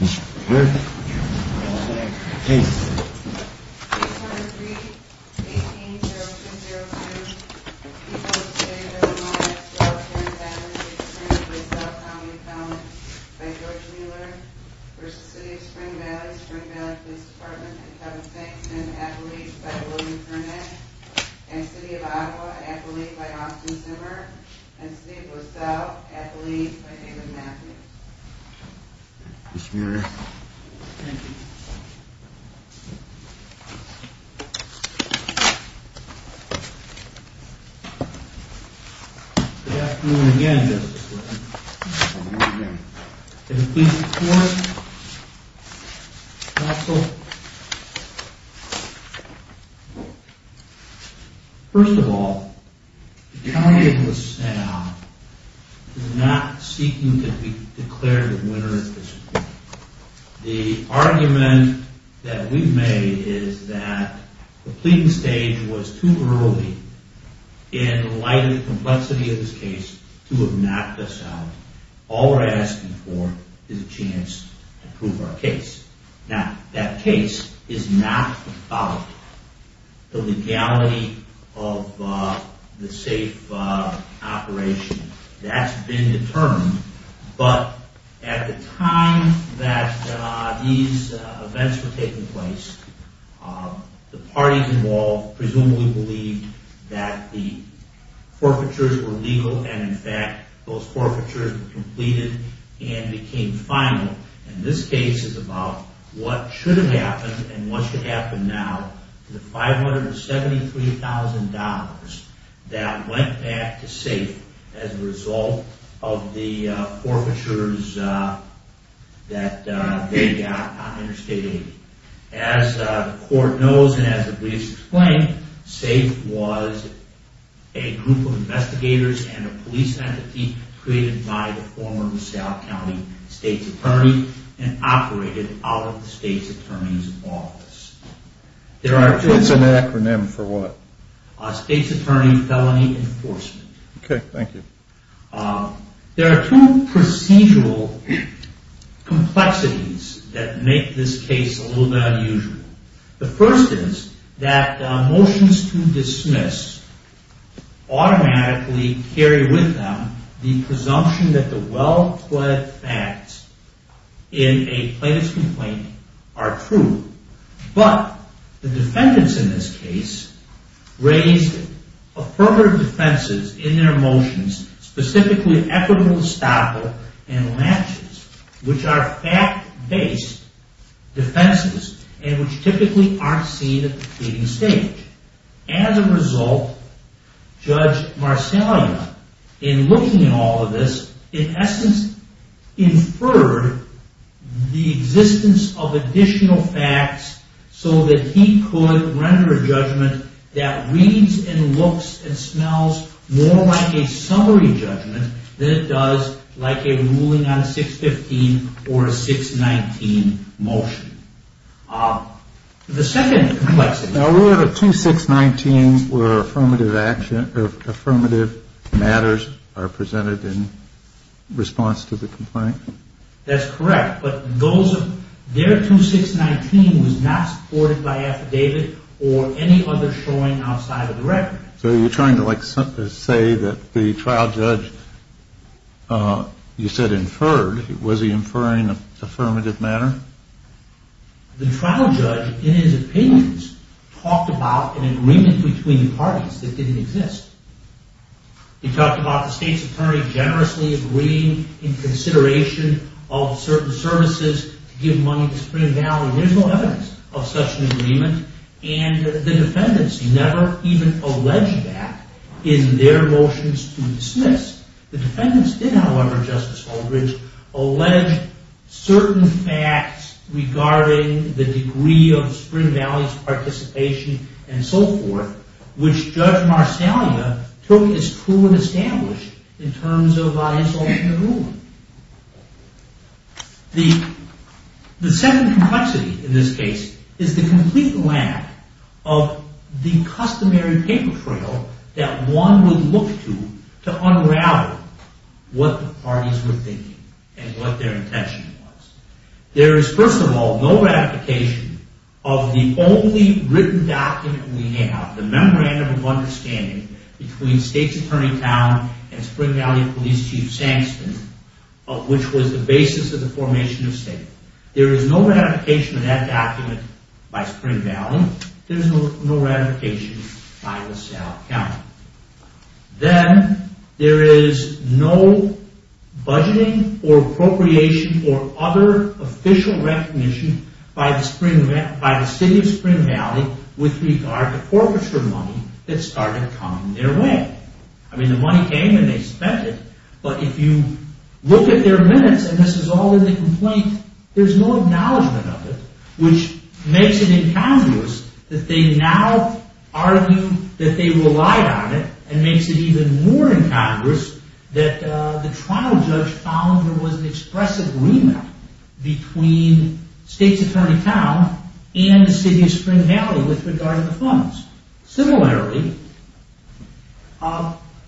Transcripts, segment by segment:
Mr. Clerk, please. Page 103, 18-0202. People of the City of Illinois, as well as parents and families, we present the LaSalle County Appellant by George Mueller v. City of Spring Valley, Spring Valley Police Department and Kevin Stanton, Appellate by William Burnett and City of Ottawa, Appellate by Austin Zimmer and City of LaSalle, Appellate by David Matthews. Mr. Mueller. Thank you. Good afternoon again, Mr. Clerk. Good afternoon again. And please report, counsel. First of all, the county of LaSalle is not seeking to declare the winner. The argument that we made is that the pleading stage was too early in light of the complexity of this case to have knocked us out. All we're asking for is a chance to prove our case. Now, that case is not about the legality of the safe operation. That's been determined. But at the time that these events were taking place, the parties involved presumably believed that the forfeitures were legal and, in fact, those forfeitures were completed and became final. And this case is about what should have happened and what should happen now. The $573,000 that went back to SAFE as a result of the forfeitures that they got on interstate 80. As the court knows and as the briefs explain, SAFE was a group of investigators and a police entity created by the former LaSalle County State's Attorney and operated out of the State's Attorney's office. What's an acronym for what? State's Attorney Felony Enforcement. Okay, thank you. There are two procedural complexities that make this case a little bit unusual. The first is that motions to dismiss automatically carry with them the presumption that the well-pled facts in a plaintiff's complaint are true. But the defendants in this case raised affirmative defenses in their motions, specifically equitable estoppel and latches, which are fact-based defenses and which typically aren't seen at the pleading stage. As a result, Judge Marcellino, in looking at all of this, in essence inferred the existence of additional facts so that he could render a judgment that reads and looks and smells more like a summary judgment than it does like a ruling on 615 or a 619 motion. The second complexity... Now, we have a 2619 where affirmative matters are presented in response to the complaint. That's correct, but their 2619 was not supported by affidavit or any other showing outside of the record. So you're trying to say that the trial judge you said inferred, was he inferring affirmative matter? The trial judge, in his opinions, talked about an agreement between the parties that didn't exist. He talked about the state's attorney generously agreeing in consideration of certain services to give money to Spring Valley. There's no evidence of such an agreement. And the defendants never even alleged that in their motions to dismiss. The defendants did, however, Justice Aldridge, alleged certain facts regarding the degree of Spring Valley's participation and so forth, which Judge Marcellia took as true and established in terms of isolation and ruling. The second complexity in this case is the complete lack of the customary paper trail that one would look to to unravel what the parties were thinking and what their intention was. There is, first of all, no ratification of the only written document we have, the Memorandum of Understanding between State's Attorney Town and Spring Valley Police Chief Sangston, which was the basis of the formation of State. There is no ratification of that document by Spring Valley. There is no ratification by LaSalle County. Then, there is no budgeting or appropriation or other official recognition by the City of Spring Valley with regard to forfeiture money that started coming their way. I mean, the money came and they spent it, but if you look at their minutes, and this is all in the complaint, there's no acknowledgement of it, which makes it incongruous that they now argue that they relied on it and makes it even more incongruous that the trial judge found there was an expressive remit between State's Attorney Town and the City of Spring Valley with regard to the funds. Similarly,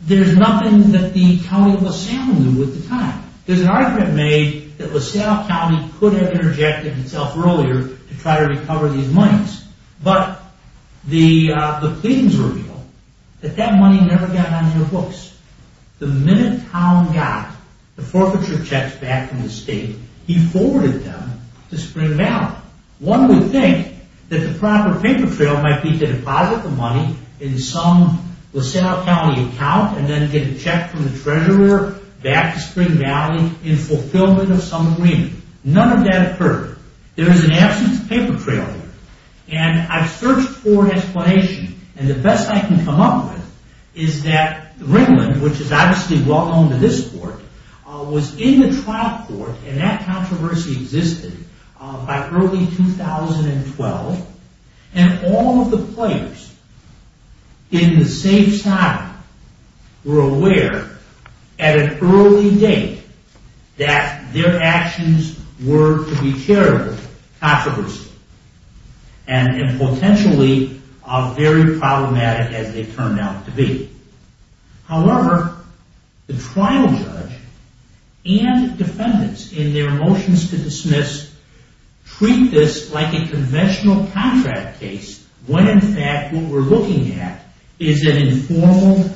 there's nothing that the County of LaSalle knew at the time. There's an argument made that LaSalle County could have interjected itself earlier to try to recover these monies, but the pleadings reveal that that money never got on their books. The minute Town got the forfeiture checks back from the State, he forwarded them to Spring Valley. One would think that the proper paper trail might be to deposit the money in some LaSalle County account and then get a check from the Treasurer back to Spring Valley in fulfillment of some agreement. None of that occurred. There is an absence of paper trail here. And I've searched for an explanation, and the best I can come up with is that Ringland, which is obviously well known to this court, was in the trial court, and that controversy existed by early 2012, and all of the players in the safe side that their actions were to be carried with controversy. And potentially are very problematic as they turned out to be. However, the trial judge and defendants in their motions to dismiss treat this like a conventional contract case when in fact what we're looking at is an informal,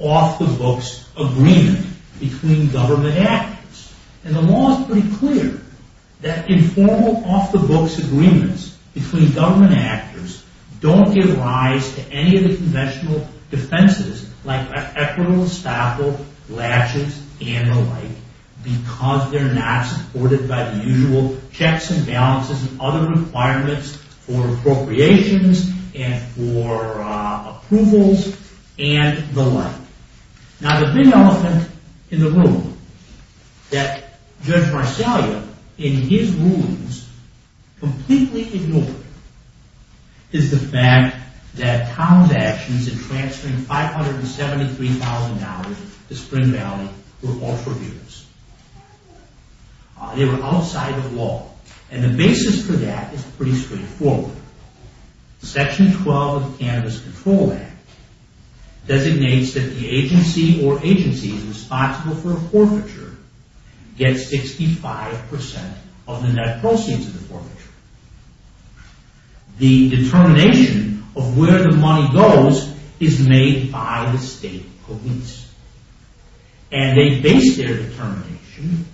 off-the-books agreement between government actors. And the law is pretty clear that informal, off-the-books agreements between government actors don't give rise to any of the conventional defenses like equitable staffle, latches, and the like because they're not supported by the usual checks and balances and other requirements for appropriations and for approvals and the like. Now, the big elephant in the room that Judge Marsalia, in his rulings, completely ignored is the fact that Town's actions in transferring $573,000 to Spring Valley were altruistic. They were outside of law. And the basis for that is pretty straightforward. Section 12 of the Cannabis Control Act designates that the agency or agencies responsible for a forfeiture get 65% of the net proceeds of the forfeiture. The determination of where the money goes is made by the state police. And they base their determination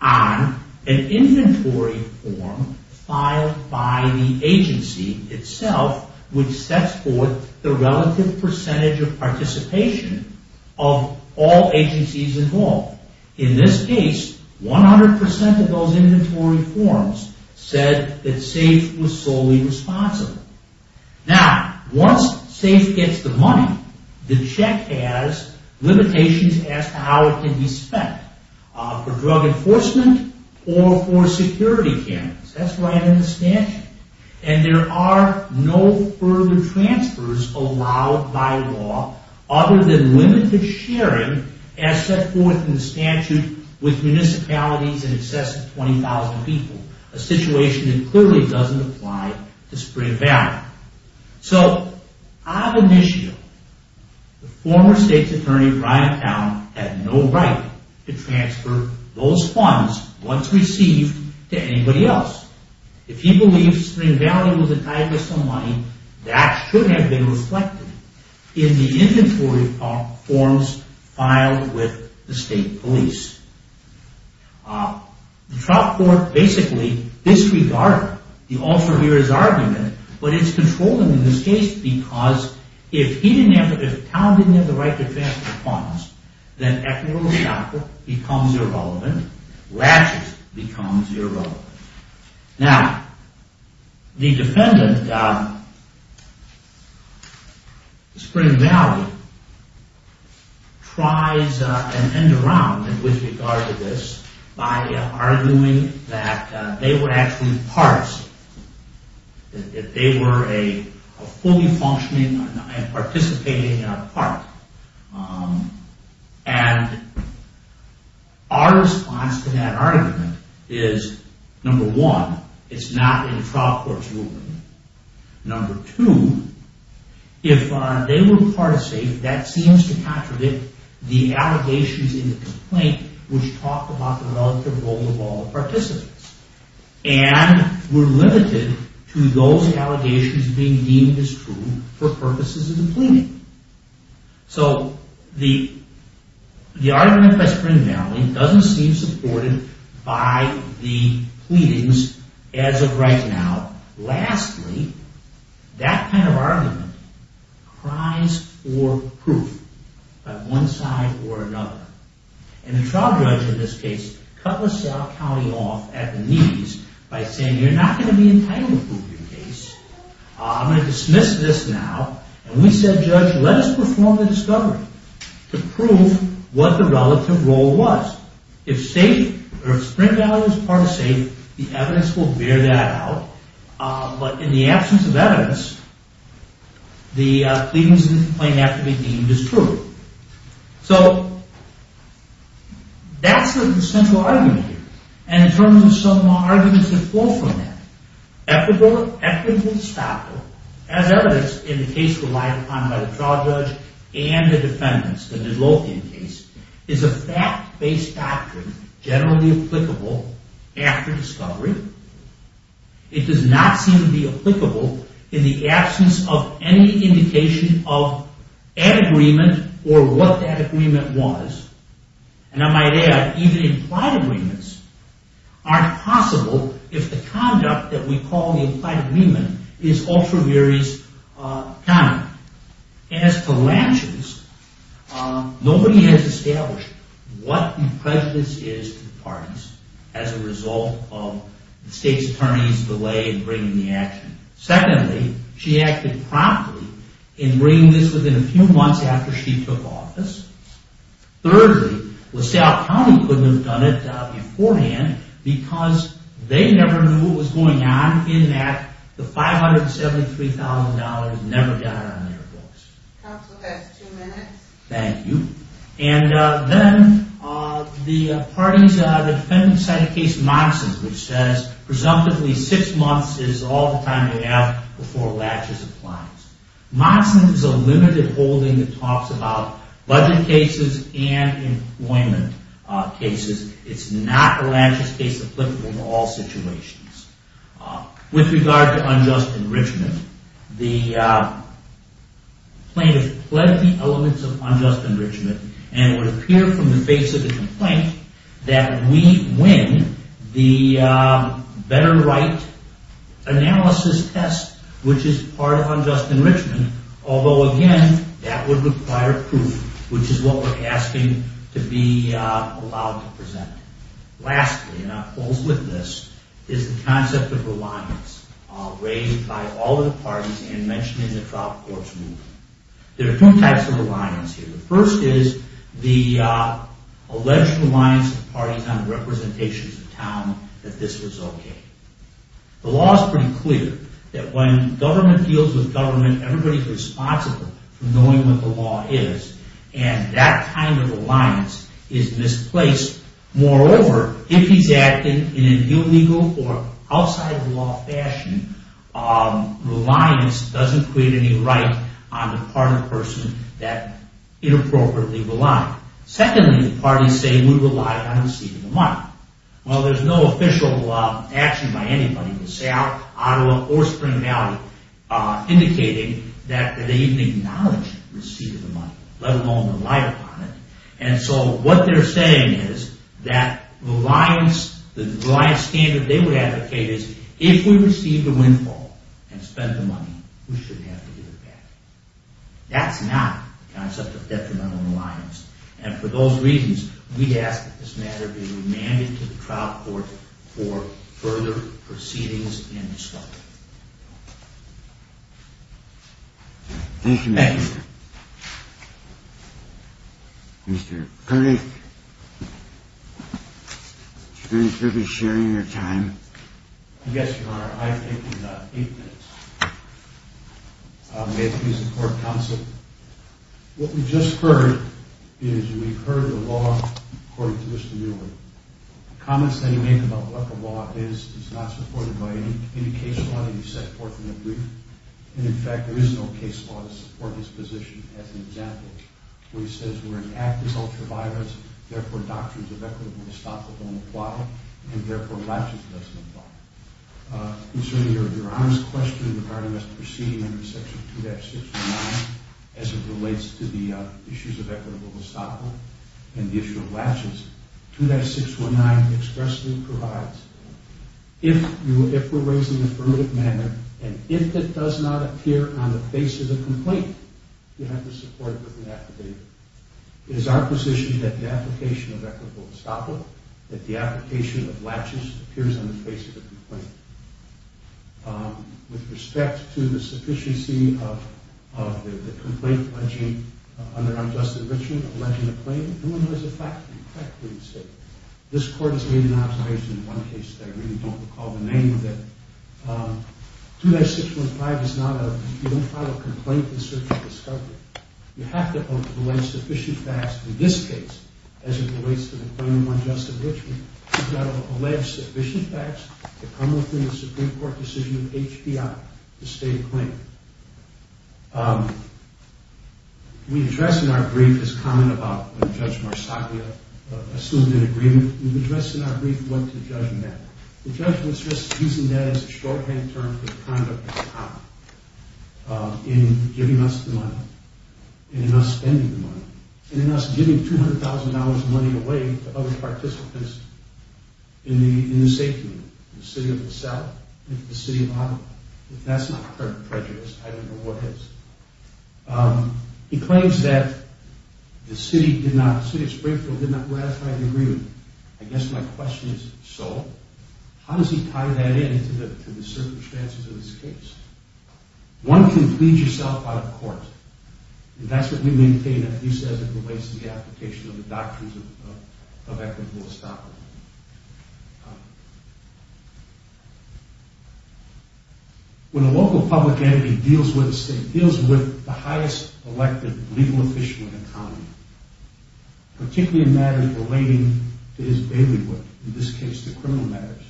on an inventory form filed by the agency itself which sets forth the relative percentage of participation of all agencies involved. In this case, 100% of those inventory forms said that SAFE was solely responsible. Now, once SAFE gets the money, the check has limitations as to how it can be spent for drug enforcement or for security cameras. That's right in the statute. And there are no further transfers allowed by law other than limited sharing as set forth in the statute with municipalities in excess of 20,000 people, a situation that clearly doesn't apply to Spring Valley. So, on the issue, the former state's attorney, Brian Town, had no right to transfer those funds once received to anybody else. If he believes Spring Valley was entitled to some money, that should have been reflected in the inventory forms filed with the state police. The trial court basically disregarded the officer here's argument, but it's controlling in this case because if he didn't have to, if Town didn't have the right to transfer funds, then equitable transfer becomes irrelevant, latches becomes irrelevant. Now, the defendant, Spring Valley, tries an end around with regard to this by arguing that they were actually parts, that they were a fully functioning and participating part. And our response to that argument is, number one, it's not in the trial court's ruling. Number two, if they were a part of state, that seems to contradict the allegations in the complaint which talk about the relative role of all participants. And we're limited to those allegations being deemed as true for purposes of the plea. So, the argument by Spring Valley doesn't seem supported by the pleadings as of right now. Lastly, that kind of argument cries for proof by one side or another. And the trial judge in this case cut LaSalle County off at the knees by saying, you're not going to be entitled to prove your case. I'm going to dismiss this now. And we said, judge, let us perform the discovery to prove what the relative role was. If Spring Valley was part of state, the evidence will bear that out. But in the absence of evidence, the pleadings in the complaint have to be deemed as true. So, that's the central argument here. And in terms of some arguments that flow from that, equitable stockpile, as evidenced in the case relied upon by the trial judge and the defendants, the Midlothian case, is a fact-based doctrine generally applicable after discovery. It does not seem to be applicable in the absence of any indication of an agreement or what that agreement was. And I might add, even implied agreements aren't possible if the conduct that we call the implied agreement is ultra-various conduct. And as to Lanshaw's, nobody has established what the prejudice is to the parties as a result of the state's attorney's delay in bringing the action. Secondly, she acted promptly in bringing this within a few months after she took office. Thirdly, LaSalle County couldn't have done it beforehand because they never knew what was going on in that the $573,000 never got on their books. Counsel, that's two minutes. Thank you. And then the parties, the defendants cite a case, Monson, which says, presumptively, six months is all the time they have before Lanshaw's applies. Monson is a limited holding that talks about budget cases and employment cases. It's not Lanshaw's case and it's applicable in all situations. With regard to unjust enrichment, the plaintiff pled the elements of unjust enrichment and it would appear from the face of the complaint that we win the better right analysis test, which is part of unjust enrichment, although again, that would require proof, which is what we're asking to be allowed to present. Lastly, and I'll close with this, is the concept of reliance raised by all of the parties and mentioned in the trial court's ruling. There are two types of reliance here. The first is the alleged reliance of the parties on representations of town that this was okay. The law is pretty clear that when government deals with government, everybody's responsible for knowing what the law is and that kind of reliance is misplaced. Moreover, if he's acting in an illegal or outside-of-the-law fashion, reliance doesn't create any right on the part of the person that inappropriately relied. Secondly, the parties say, we relied on receiving the money. Well, there's no official action by anybody to say Ottawa or Spring Valley indicated that they even acknowledge receiving the money, let alone relied upon it. And so what they're saying is that the reliance standard they would advocate is if we receive the windfall and spend the money, we shouldn't have to give it back. That's not the concept of detrimental reliance. And for those reasons, we ask that this matter be remanded to the trial court for further proceedings and discussion. Thank you. Mr. Koenig, should we be sharing your time? Yes, Your Honor, I think we've got eight minutes. May it please the Court of Counsel, what we've just heard is we've heard the law according to Mr. Mueller. Comments that he made about what the law is is not supported by any case law that he set forth in the brief. And in fact, there is no case law to support his position as an example where he says we're an act as ultraviolence, therefore doctrines of equitable gestapo don't apply, and therefore latches doesn't apply. And so your Honor's question regarding us proceeding under Section 2-619 as it relates to the issues of equitable gestapo and the issue of latches, 2-619 expressly provides if we're raising affirmative manner and if it does not appear on the basis of complaint, you have to support it with an affidavit. It is our position that the application of equitable gestapo, that the application of latches appears on the basis of complaint. With respect to the sufficiency of the complaint pledging under Unjustice of Enrichment, alleging a claim, no one has effectively said. This Court has made an observation in one case that I really don't recall the name of it. 2-615 is not a... You have to allege sufficient facts in this case as it relates to the claim of Unjustice of Enrichment. You've got to allege sufficient facts to come within the Supreme Court decision of HPI to state a claim. We address in our brief this comment about when Judge Marsaglia assumed an agreement. We've addressed in our brief what the judge meant. The judge was just using that as a shorthand term for the conduct of a cop in giving us the money, in us spending the money, in us giving $200,000 money away to other participants in the safety, in the city of La Salle, in the city of Ottawa. If that's not prejudice, I don't know what is. He claims that the city did not, the city of Springfield did not ratify the agreement. I guess my question is, so? How does he tie that in to the circumstances of this case? One can plead yourself out of court, and that's what we maintain if he says it relates to the application of the doctrines of equitable estoppel. When a local public entity deals with a state, deals with the highest elected legal official in a county, particularly in matters relating to his bailiwick, in this case the criminal matters,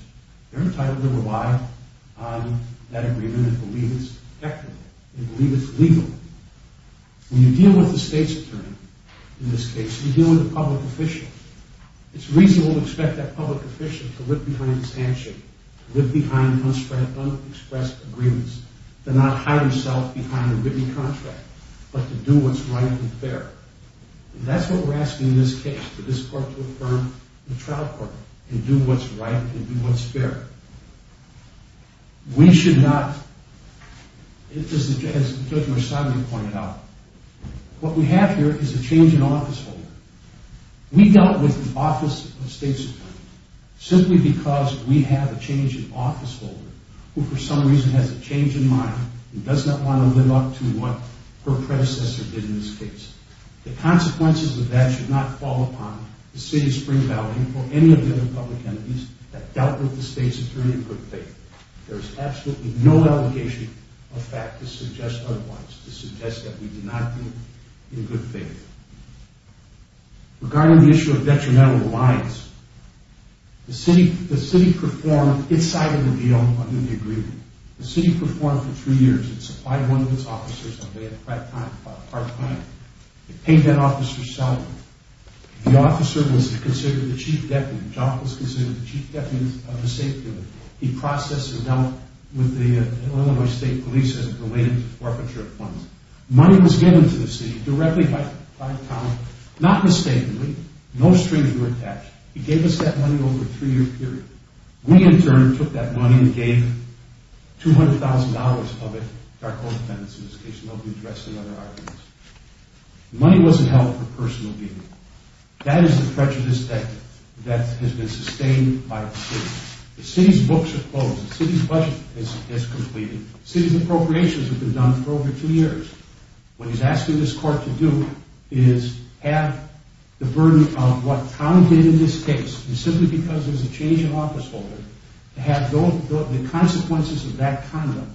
they're entitled to rely on that agreement and believe it's equitable, and believe it's legal. When you deal with the state's attorney, in this case, you're dealing with a public official. It's reasonable to expect that public official to live behind his handshake, to live behind unspread, unexpressed agreements, to not hide himself behind a written contract, but to do what's right and fair. And that's what we're asking in this case, for this court to affirm the trial court, and do what's right and do what's fair. We should not, as Judge Marsalio pointed out, what we have here is a change in office holder. We dealt with the office of state's attorney simply because we have a change in office holder who for some reason has a change in mind and does not want to live up to what her predecessor did in this case. The consequences of that should not fall upon the city of Spring Valley or any of the other public entities that dealt with the state's attorney in good faith. There is absolutely no allegation of fact to suggest otherwise, to suggest that we did not do it in good faith. Regarding the issue of detrimental reliance, the city performed its side of the deal under the agreement. The city performed for three years and supplied one of its officers on behalf of our client. It paid that officer's salary. The officer was considered the chief deputy. Jock was considered the chief deputy of the state. He processed and dealt with the Illinois State Police as it related to forfeiture of funds. Money was given to the city directly by Tom, not mistakenly. No strings were attached. He gave us that money over a three-year period. We, in turn, took that money and gave $200,000 of it to our co-dependents in this case. Nobody addressed any other arguments. Money wasn't held for personal gain. That is the prejudice that has been sustained by the city. The city's books are closed. The city's budget is completed. The city's appropriations have been done for over two years. What he's asking this court to do is have the burden of what Tom did in this case, and simply because there's a change in office holder, to have the consequences of that conduct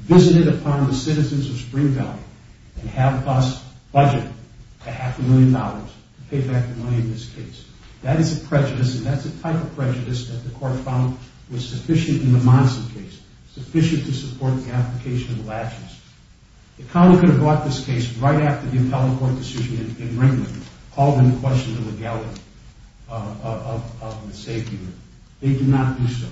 visited upon the citizens of Spring Valley and have us budget to half a million dollars to pay back the money in this case. That is a prejudice, and that's the type of prejudice that the court found was sufficient in the Monson case, sufficient to support the application of the latches. The county could have brought this case right after the appellate court decision in Ringwood and called into question the legality of the safety limit. They did not do so.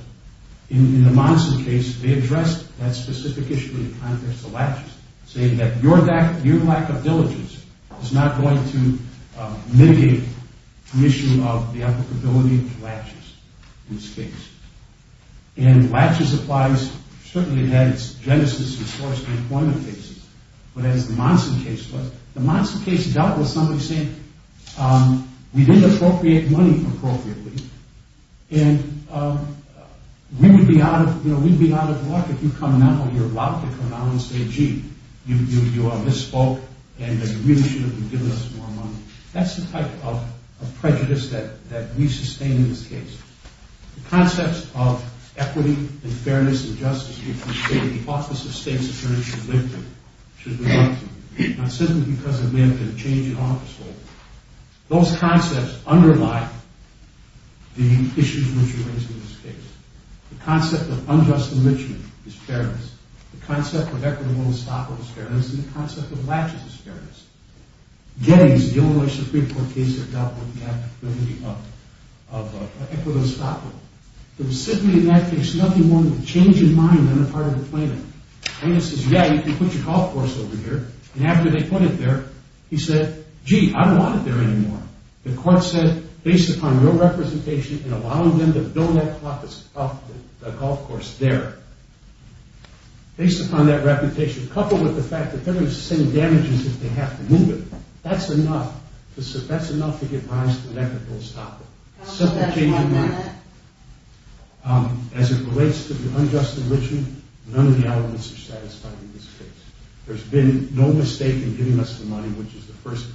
In the Monson case, they addressed that specific issue in the context of latches, saying that your lack of diligence is not going to mitigate the issue of the applicability of latches in this case. And latches certainly had its genesis in forced employment cases, but as the Monson case was, the Monson case dealt with somebody saying, we didn't appropriate money appropriately, and we would be out of luck if you come out or you're allowed to come out and say, gee, you misspoke, and you really should have been giving us more money. That's the type of prejudice that we sustain in this case. The concepts of equity and fairness and justice between state and the office of state's attorney should be limited, not simply because of manpower change in office holding. Those concepts underlie the issues which are raised in this case. The concept of unjust enrichment is fairness. The concept of equitable estoppel is fairness, and the concept of latches is fairness. Gettys, the Illinois Supreme Court case, dealt with the applicability of equitable estoppel. There was simply in that case nothing more than a change in mind than a part of the claimant. Gettys says, yeah, you can put your call force over here, and after they put it there, he said, gee, I don't want it there anymore. The court said, based upon your representation and allowing them to build that office up, the golf course there, based upon that reputation, coupled with the fact that they're going to sustain damages if they have to move it, that's enough. That's enough to give rise to an equitable estoppel. Simple change in mind. As it relates to the unjust enrichment, none of the elements are satisfied in this case. There's been no mistake in giving us the money, which is the first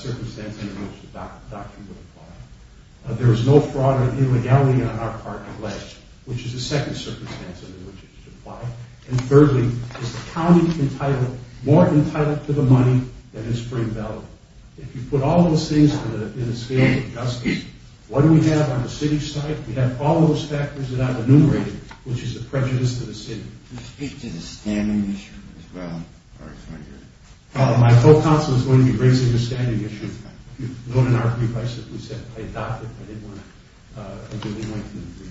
circumstance under which the doctrine would apply. There is no fraud or illegality on our part, at least, which is the second circumstance under which it should apply. And thirdly, is the county entitled, more entitled to the money than in Spring Valley? If you put all those things in a scale of injustice, what do we have on the city's side? We have all those factors that I've enumerated, which is the prejudice to the city. Can you speak to the standing issue as well? My co-counsel is going to be raising the standing issue, but if you look at our brief, I simply said I adopted it. I didn't want to...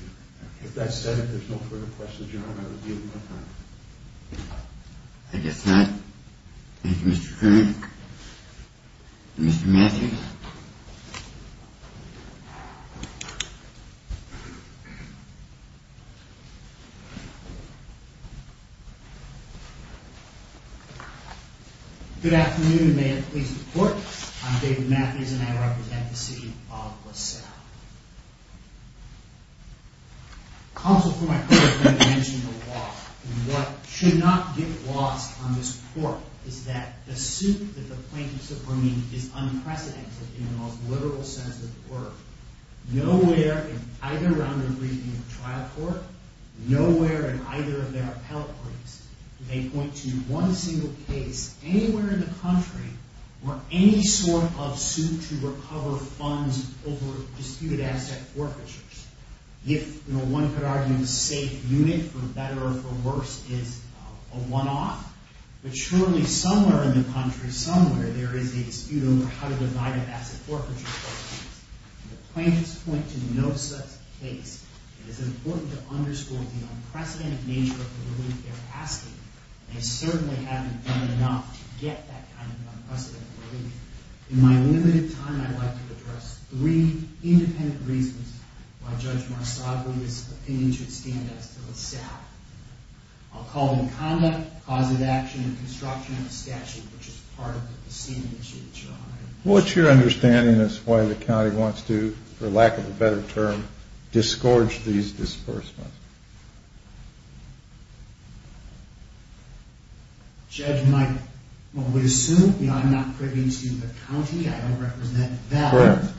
If that's said, if there's no further questions, your Honor, I will deal with that. I guess not. Thank you, Mr. Curran. Mr. Matthews. Good afternoon, and may it please the Court. I'm David Matthews, and I represent the city of La Salle. Counsel, for my part, I'm going to mention the law. And what should not get lost on this Court is that the suit that the plaintiffs are bringing is unprecedented in the most literal sense of the word. Nowhere in either round of briefing of trial court, nowhere in either of their appellate briefs do they point to one single case anywhere in the country or any sort of suit to recover funds over disputed asset forfeitures. If, you know, one could argue a safe unit, for better or for worse, is a one-off, but surely somewhere in the country, somewhere, there is a dispute over how to divide an asset forfeiture. The plaintiffs point to no such case. It is important to underscore the unprecedented nature of the ruling they're asking, and they certainly haven't done enough to get that kind of unprecedented relief. In my limited time, I'd like to address three independent reasons why Judge Marsaglia's opinion should stand as to La Salle. I'll call in conduct, cause of action, and construction of a statute, which is part of the proceeding issue that you're honoring. What's your understanding as to why the county wants to, for lack of a better term, disgorge these disbursements? Judge, my... I would assume, you know, I'm not privy to the county. I don't represent that.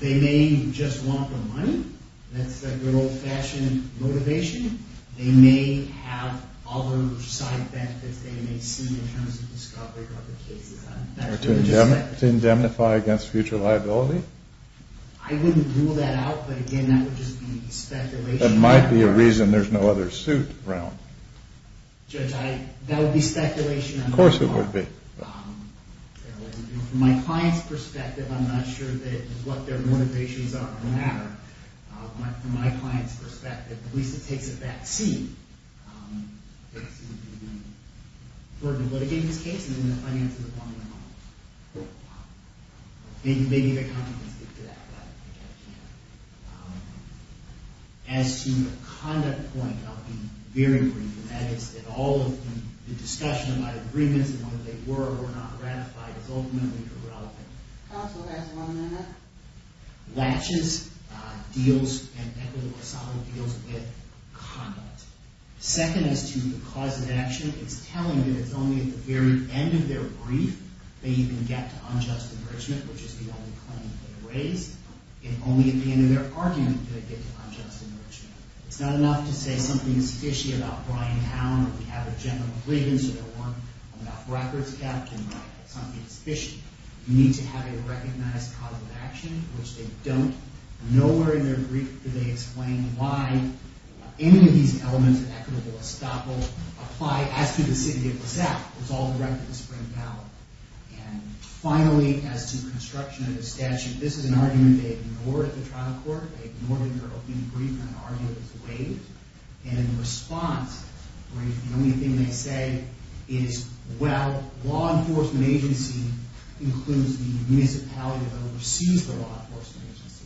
They may just want the money. That's a good old-fashioned motivation. They may have other side benefits they may see in terms of discovery of other cases. To indemnify against future liability? I wouldn't rule that out, but, again, that would just be expected That might be a reason there's no other suit around. Judge, that would be speculation. Of course it would be. From my client's perspective, I'm not sure that what their motivations are. From my client's perspective, at least it takes a back seat. For litigating this case, they're going to finance it upon their own. Maybe the county can speak to that. I don't think I can. As to the conduct point, I'll be very brief. That is, that all of the discussion about agreements and whether they were or were not ratified is ultimately irrelevant. Counsel, there's one minute. Latches, deals, and equitable or solid deals with conduct. Second as to the cause of action, it's telling that it's only at the very end of their brief that you can get to unjust enrichment, which is the only claim they raised. And only at the end of their argument can they get to unjust enrichment. It's not enough to say something is fishy about Bryan Town or we have a general grievance or we have a records gap. Something is fishy. You need to have a recognized cause of action, which they don't. Nowhere in their brief do they explain why any of these elements of equitable estoppel apply as to the city of LeSac. It's all directed to Spring Valley. And finally, as to construction of the statute, this is an argument they ignored at the trial court. They ignored it in their opening brief in an argument that was waived. And in response, the only thing they say is, well, law enforcement agency includes the municipality that oversees the law enforcement agency.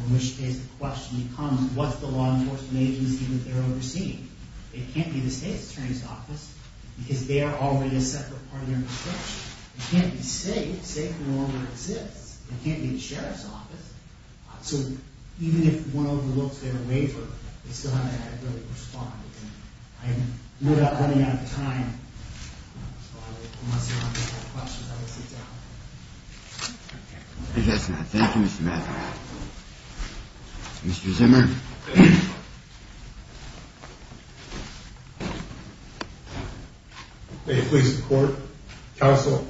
In which case, the question becomes, what's the law enforcement agency that they're overseeing? It can't be the state attorney's office because they are already a separate part of their construction. It can't be state. State no longer exists. It can't be the sheriff's office. So even if one overlooks their waiver, they still haven't adequately responded. And I'm running out of time. So unless anyone has any questions, I will sit down. Okay. Thank you, Mr. Mather. Mr. Zimmer? May it please the court, counsel.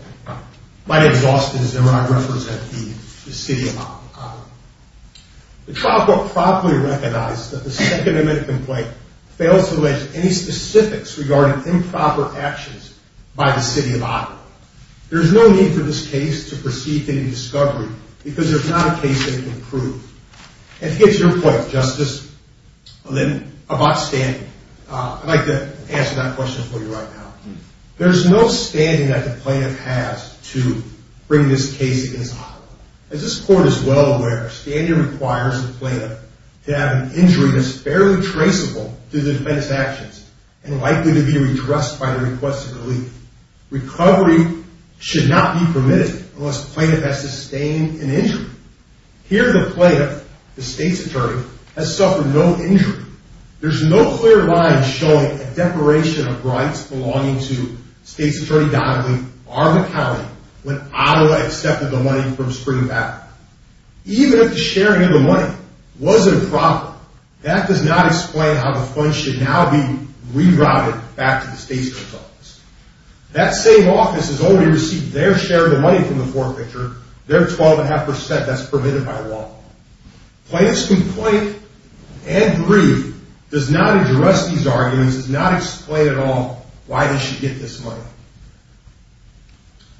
My name is Austin Zimmer. I represent the city of Occoquan. The trial court promptly recognized that the second amendment complaint fails to allege any specifics regarding improper actions by the city of Occoquan. There is no need for this case to proceed to any discovery because there's not a case that it can prove. And to get to your point, Justice Lynn, about standing, I'd like to answer that question for you right now. There's no standing that the plaintiff has to bring this case inside. As this court is well aware, standing requires the plaintiff to have an injury that's fairly traceable to the defendant's actions and likely to be redressed by the request of relief. Recovery should not be permitted unless the plaintiff has sustained an injury. Here, the plaintiff, the state's attorney, has suffered no injury. There's no clear line showing a declaration of rights belonging to State's Attorney Donnelly, Arvin County, when Ottawa accepted the money from Spring Valley. Even if the sharing of the money was improper, that does not explain how the funds should now be rerouted back to the state's attorney's office. That same office has already received their share of the money from the forfeiture, their 12.5% that's permitted by law. Plaintiff's complaint and brief does not address these arguments, does not explain at all why they should get this money.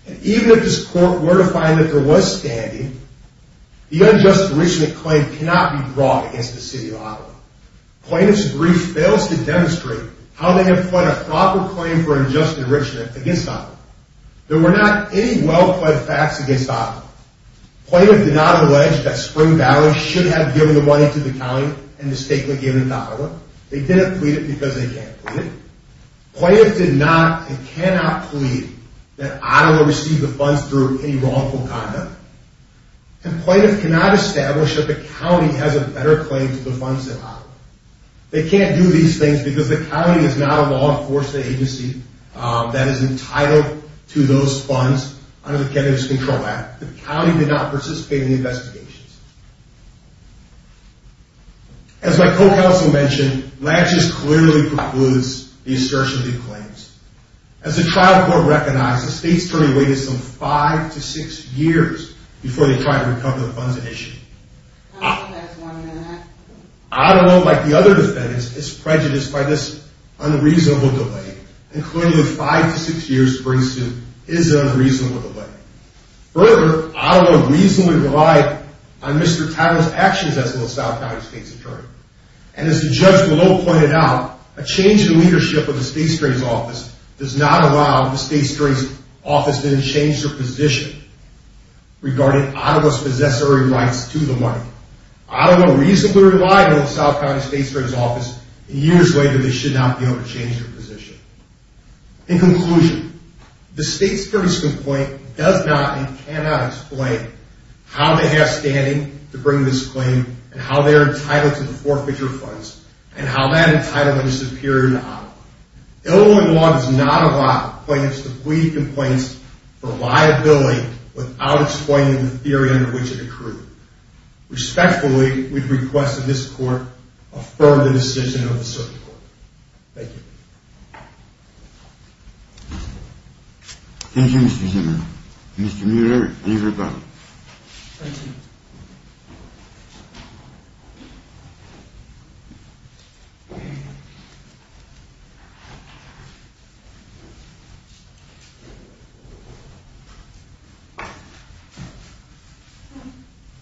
And even if this court were to find that there was standing, the unjust enrichment claim cannot be brought against the City of Ottawa. Plaintiff's brief fails to demonstrate how they have pled a proper claim for unjust enrichment against Ottawa. There were not any well-pled facts against Ottawa. Plaintiff did not allege that Spring Valley should have given the money to the county and mistakenly given it to Ottawa. They didn't plead it because they can't plead it. Plaintiff did not and cannot plead that Ottawa received the funds through any wrongful conduct. And Plaintiff cannot establish that the county has a better claim to the funds than Ottawa. They can't do these things because the county is not a law-enforcing agency that is entitled to those funds under the Kennedy's Control Act. The county did not participate in the investigations. As my co-counsel mentioned, Latches clearly precludes the assertion of these claims. As the trial court recognized, the state's jury waited some five to six years before they tried to recover the funds at issue. Ottawa, like the other defendants, is prejudiced by this unreasonable delay and clearly five to six years brings to is an unreasonable delay. Further, Ottawa reasonably relied on Mr. Tyler's actions as the South County State's Attorney. And as the judge below pointed out, a change in the leadership of the State's Attorney's Office does not allow the State's Attorney's Office to change their position regarding Ottawa's possessory rights to the money. Ottawa reasonably relied on the South County State's Attorney's Office and years later they should not be able to change their position. In conclusion, the state's first complaint does not and cannot explain how they have standing to bring this claim and how they are entitled to the forfeiture funds and how that entitlement is superior to Ottawa. Illinois law does not allow plaintiffs to plead complaints for liability without explaining the theory under which it occurred. Respectfully, we request that this court affirm the decision of the circuit court. Thank you. Thank you, Mr. Zimmer. Mr. Muir, please return. Thank you.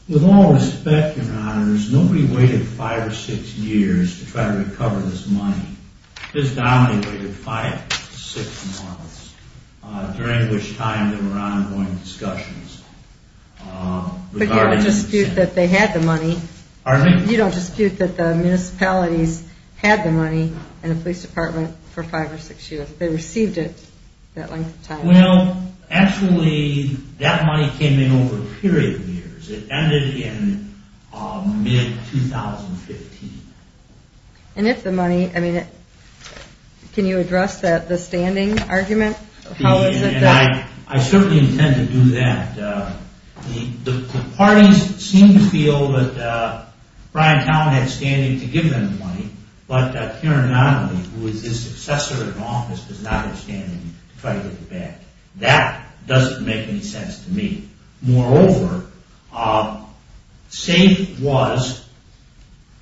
With all respect, Your Honors, nobody waited five or six years to try to recover this money. Ms. Donnelly waited five to six months, during which time there were ongoing discussions. But you don't dispute that they had the money. Pardon me? You don't dispute that the municipalities had the money and the police department for five or six years. They received it that length of time. Well, actually, that money came in over a period of years. It ended in mid-2015. And if the money... I mean, can you address the standing argument? How is it that... I certainly intend to do that. The parties seem to feel that Bryant Town had standing to give them the money, but Karen Donnelly, who was his successor in office, does not have standing to try to get it back. That doesn't make any sense to me. Moreover, SAFE was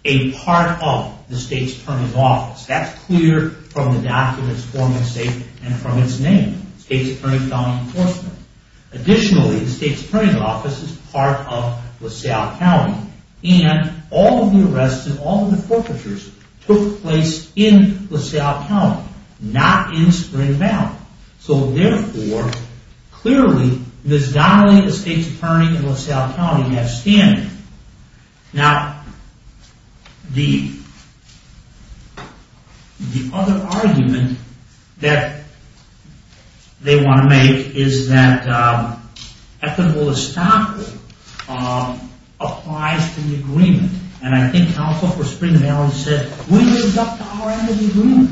a part of the State's Attorney's Office. That's clear from the documents forming SAFE and from its name, State's Attorney County Enforcement. Additionally, the State's Attorney's Office is part of LaSalle County, and all of the arrests and all of the forfeitures took place in LaSalle County, not in Spring Valley. So, therefore, clearly, Ms. Donnelly, the State's Attorney in LaSalle County, has standing. Now, the other argument that they want to make is that equitable estoppel applies to the agreement. And I think Counsel for Spring Valley said, we lived up to our end of the agreement.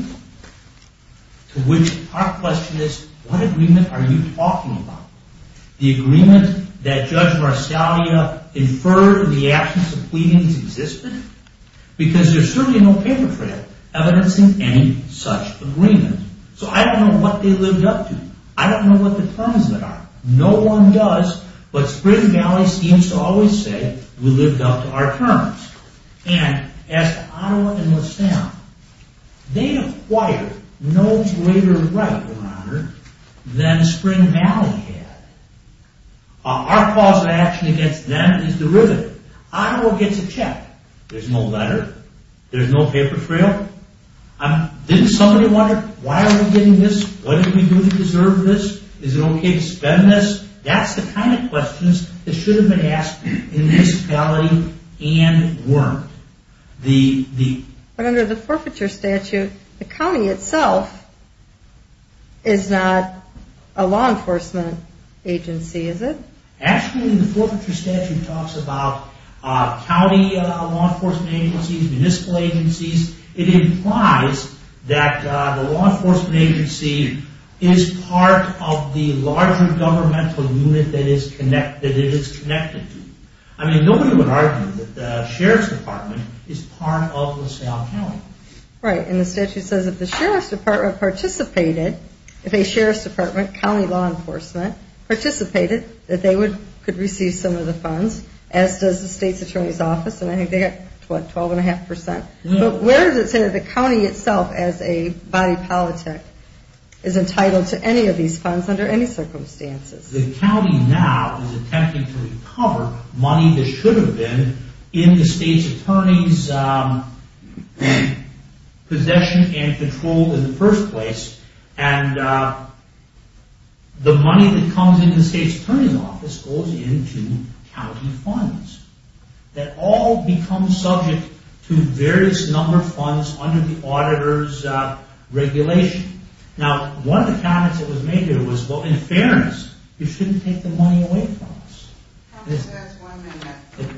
To which our question is, what agreement are you talking about? The agreement that Judge Varsalia inferred in the absence of pleadings existed? Because there's certainly no paper trail evidencing any such agreement. So I don't know what they lived up to. I don't know what the terms of it are. No one does, but Spring Valley seems to always say, we lived up to our terms. And as to Ottawa and LaSalle, they acquired no greater right, Your Honor, than Spring Valley had. Our cause of action against them is derivative. Ottawa gets a check. There's no letter. There's no paper trail. Didn't somebody wonder, why are we getting this? What did we do to deserve this? Is it okay to spend this? That's the kind of questions that should have been asked in this county and weren't. But under the forfeiture statute, the county itself is not a law enforcement agency, is it? Actually, the forfeiture statute talks about county law enforcement agencies, municipal agencies. It implies that the law enforcement agency is part of the larger governmental unit that it is connected to. I mean, nobody would argue that the Sheriff's Department is part of LaSalle County. Right, and the statute says if the Sheriff's Department participated, if a Sheriff's Department county law enforcement participated, that they could receive some of the funds, as does the State's Attorney's Office, and I think they got, what, 12.5%? No. But where does it say that the county itself, as a body politic, is entitled to any of these funds under any circumstances? The county now is attempting to recover money that should have been in the State's Attorney's possession and control in the first place, and the money that comes into the State's Attorney's Office goes into county funds. That all becomes subject to various number of funds under the auditor's regulation. Now, one of the comments that was made here was, well, in fairness, you shouldn't take the money away from us.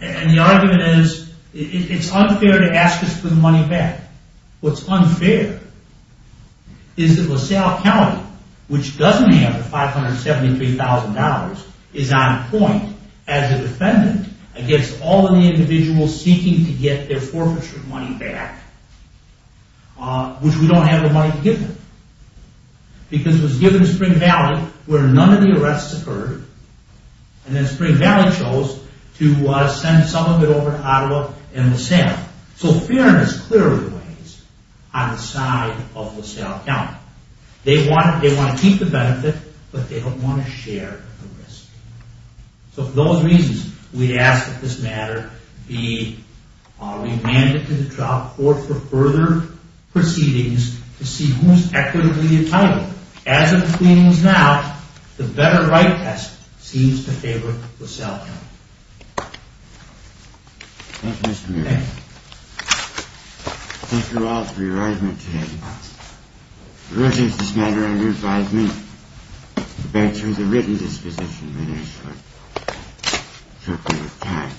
And the argument is, it's unfair to ask us for the money back. What's unfair is that LaSalle County, which doesn't have the $573,000, is on point as a defendant against all of the individuals seeking to get their forfeiture money back, which we don't have the money to give them, because it was given to Spring Valley, where none of the arrests occurred, and then Spring Valley chose to send some of it over to Ottawa and LaSalle. So fairness clearly weighs on the side of LaSalle County. They want to keep the benefit, but they don't want to share the risk. So for those reasons, we ask that this matter be remanded to the trial court for further proceedings to see who's equitably entitled. As of proceedings now, the better right test seems to favor LaSalle County. Thank you, Mr. Muriel. Thank you. Thank you all for your argument today. The verdict of this matter under five minutes. The bench was a written disposition, my dear sir. It took a lot of time.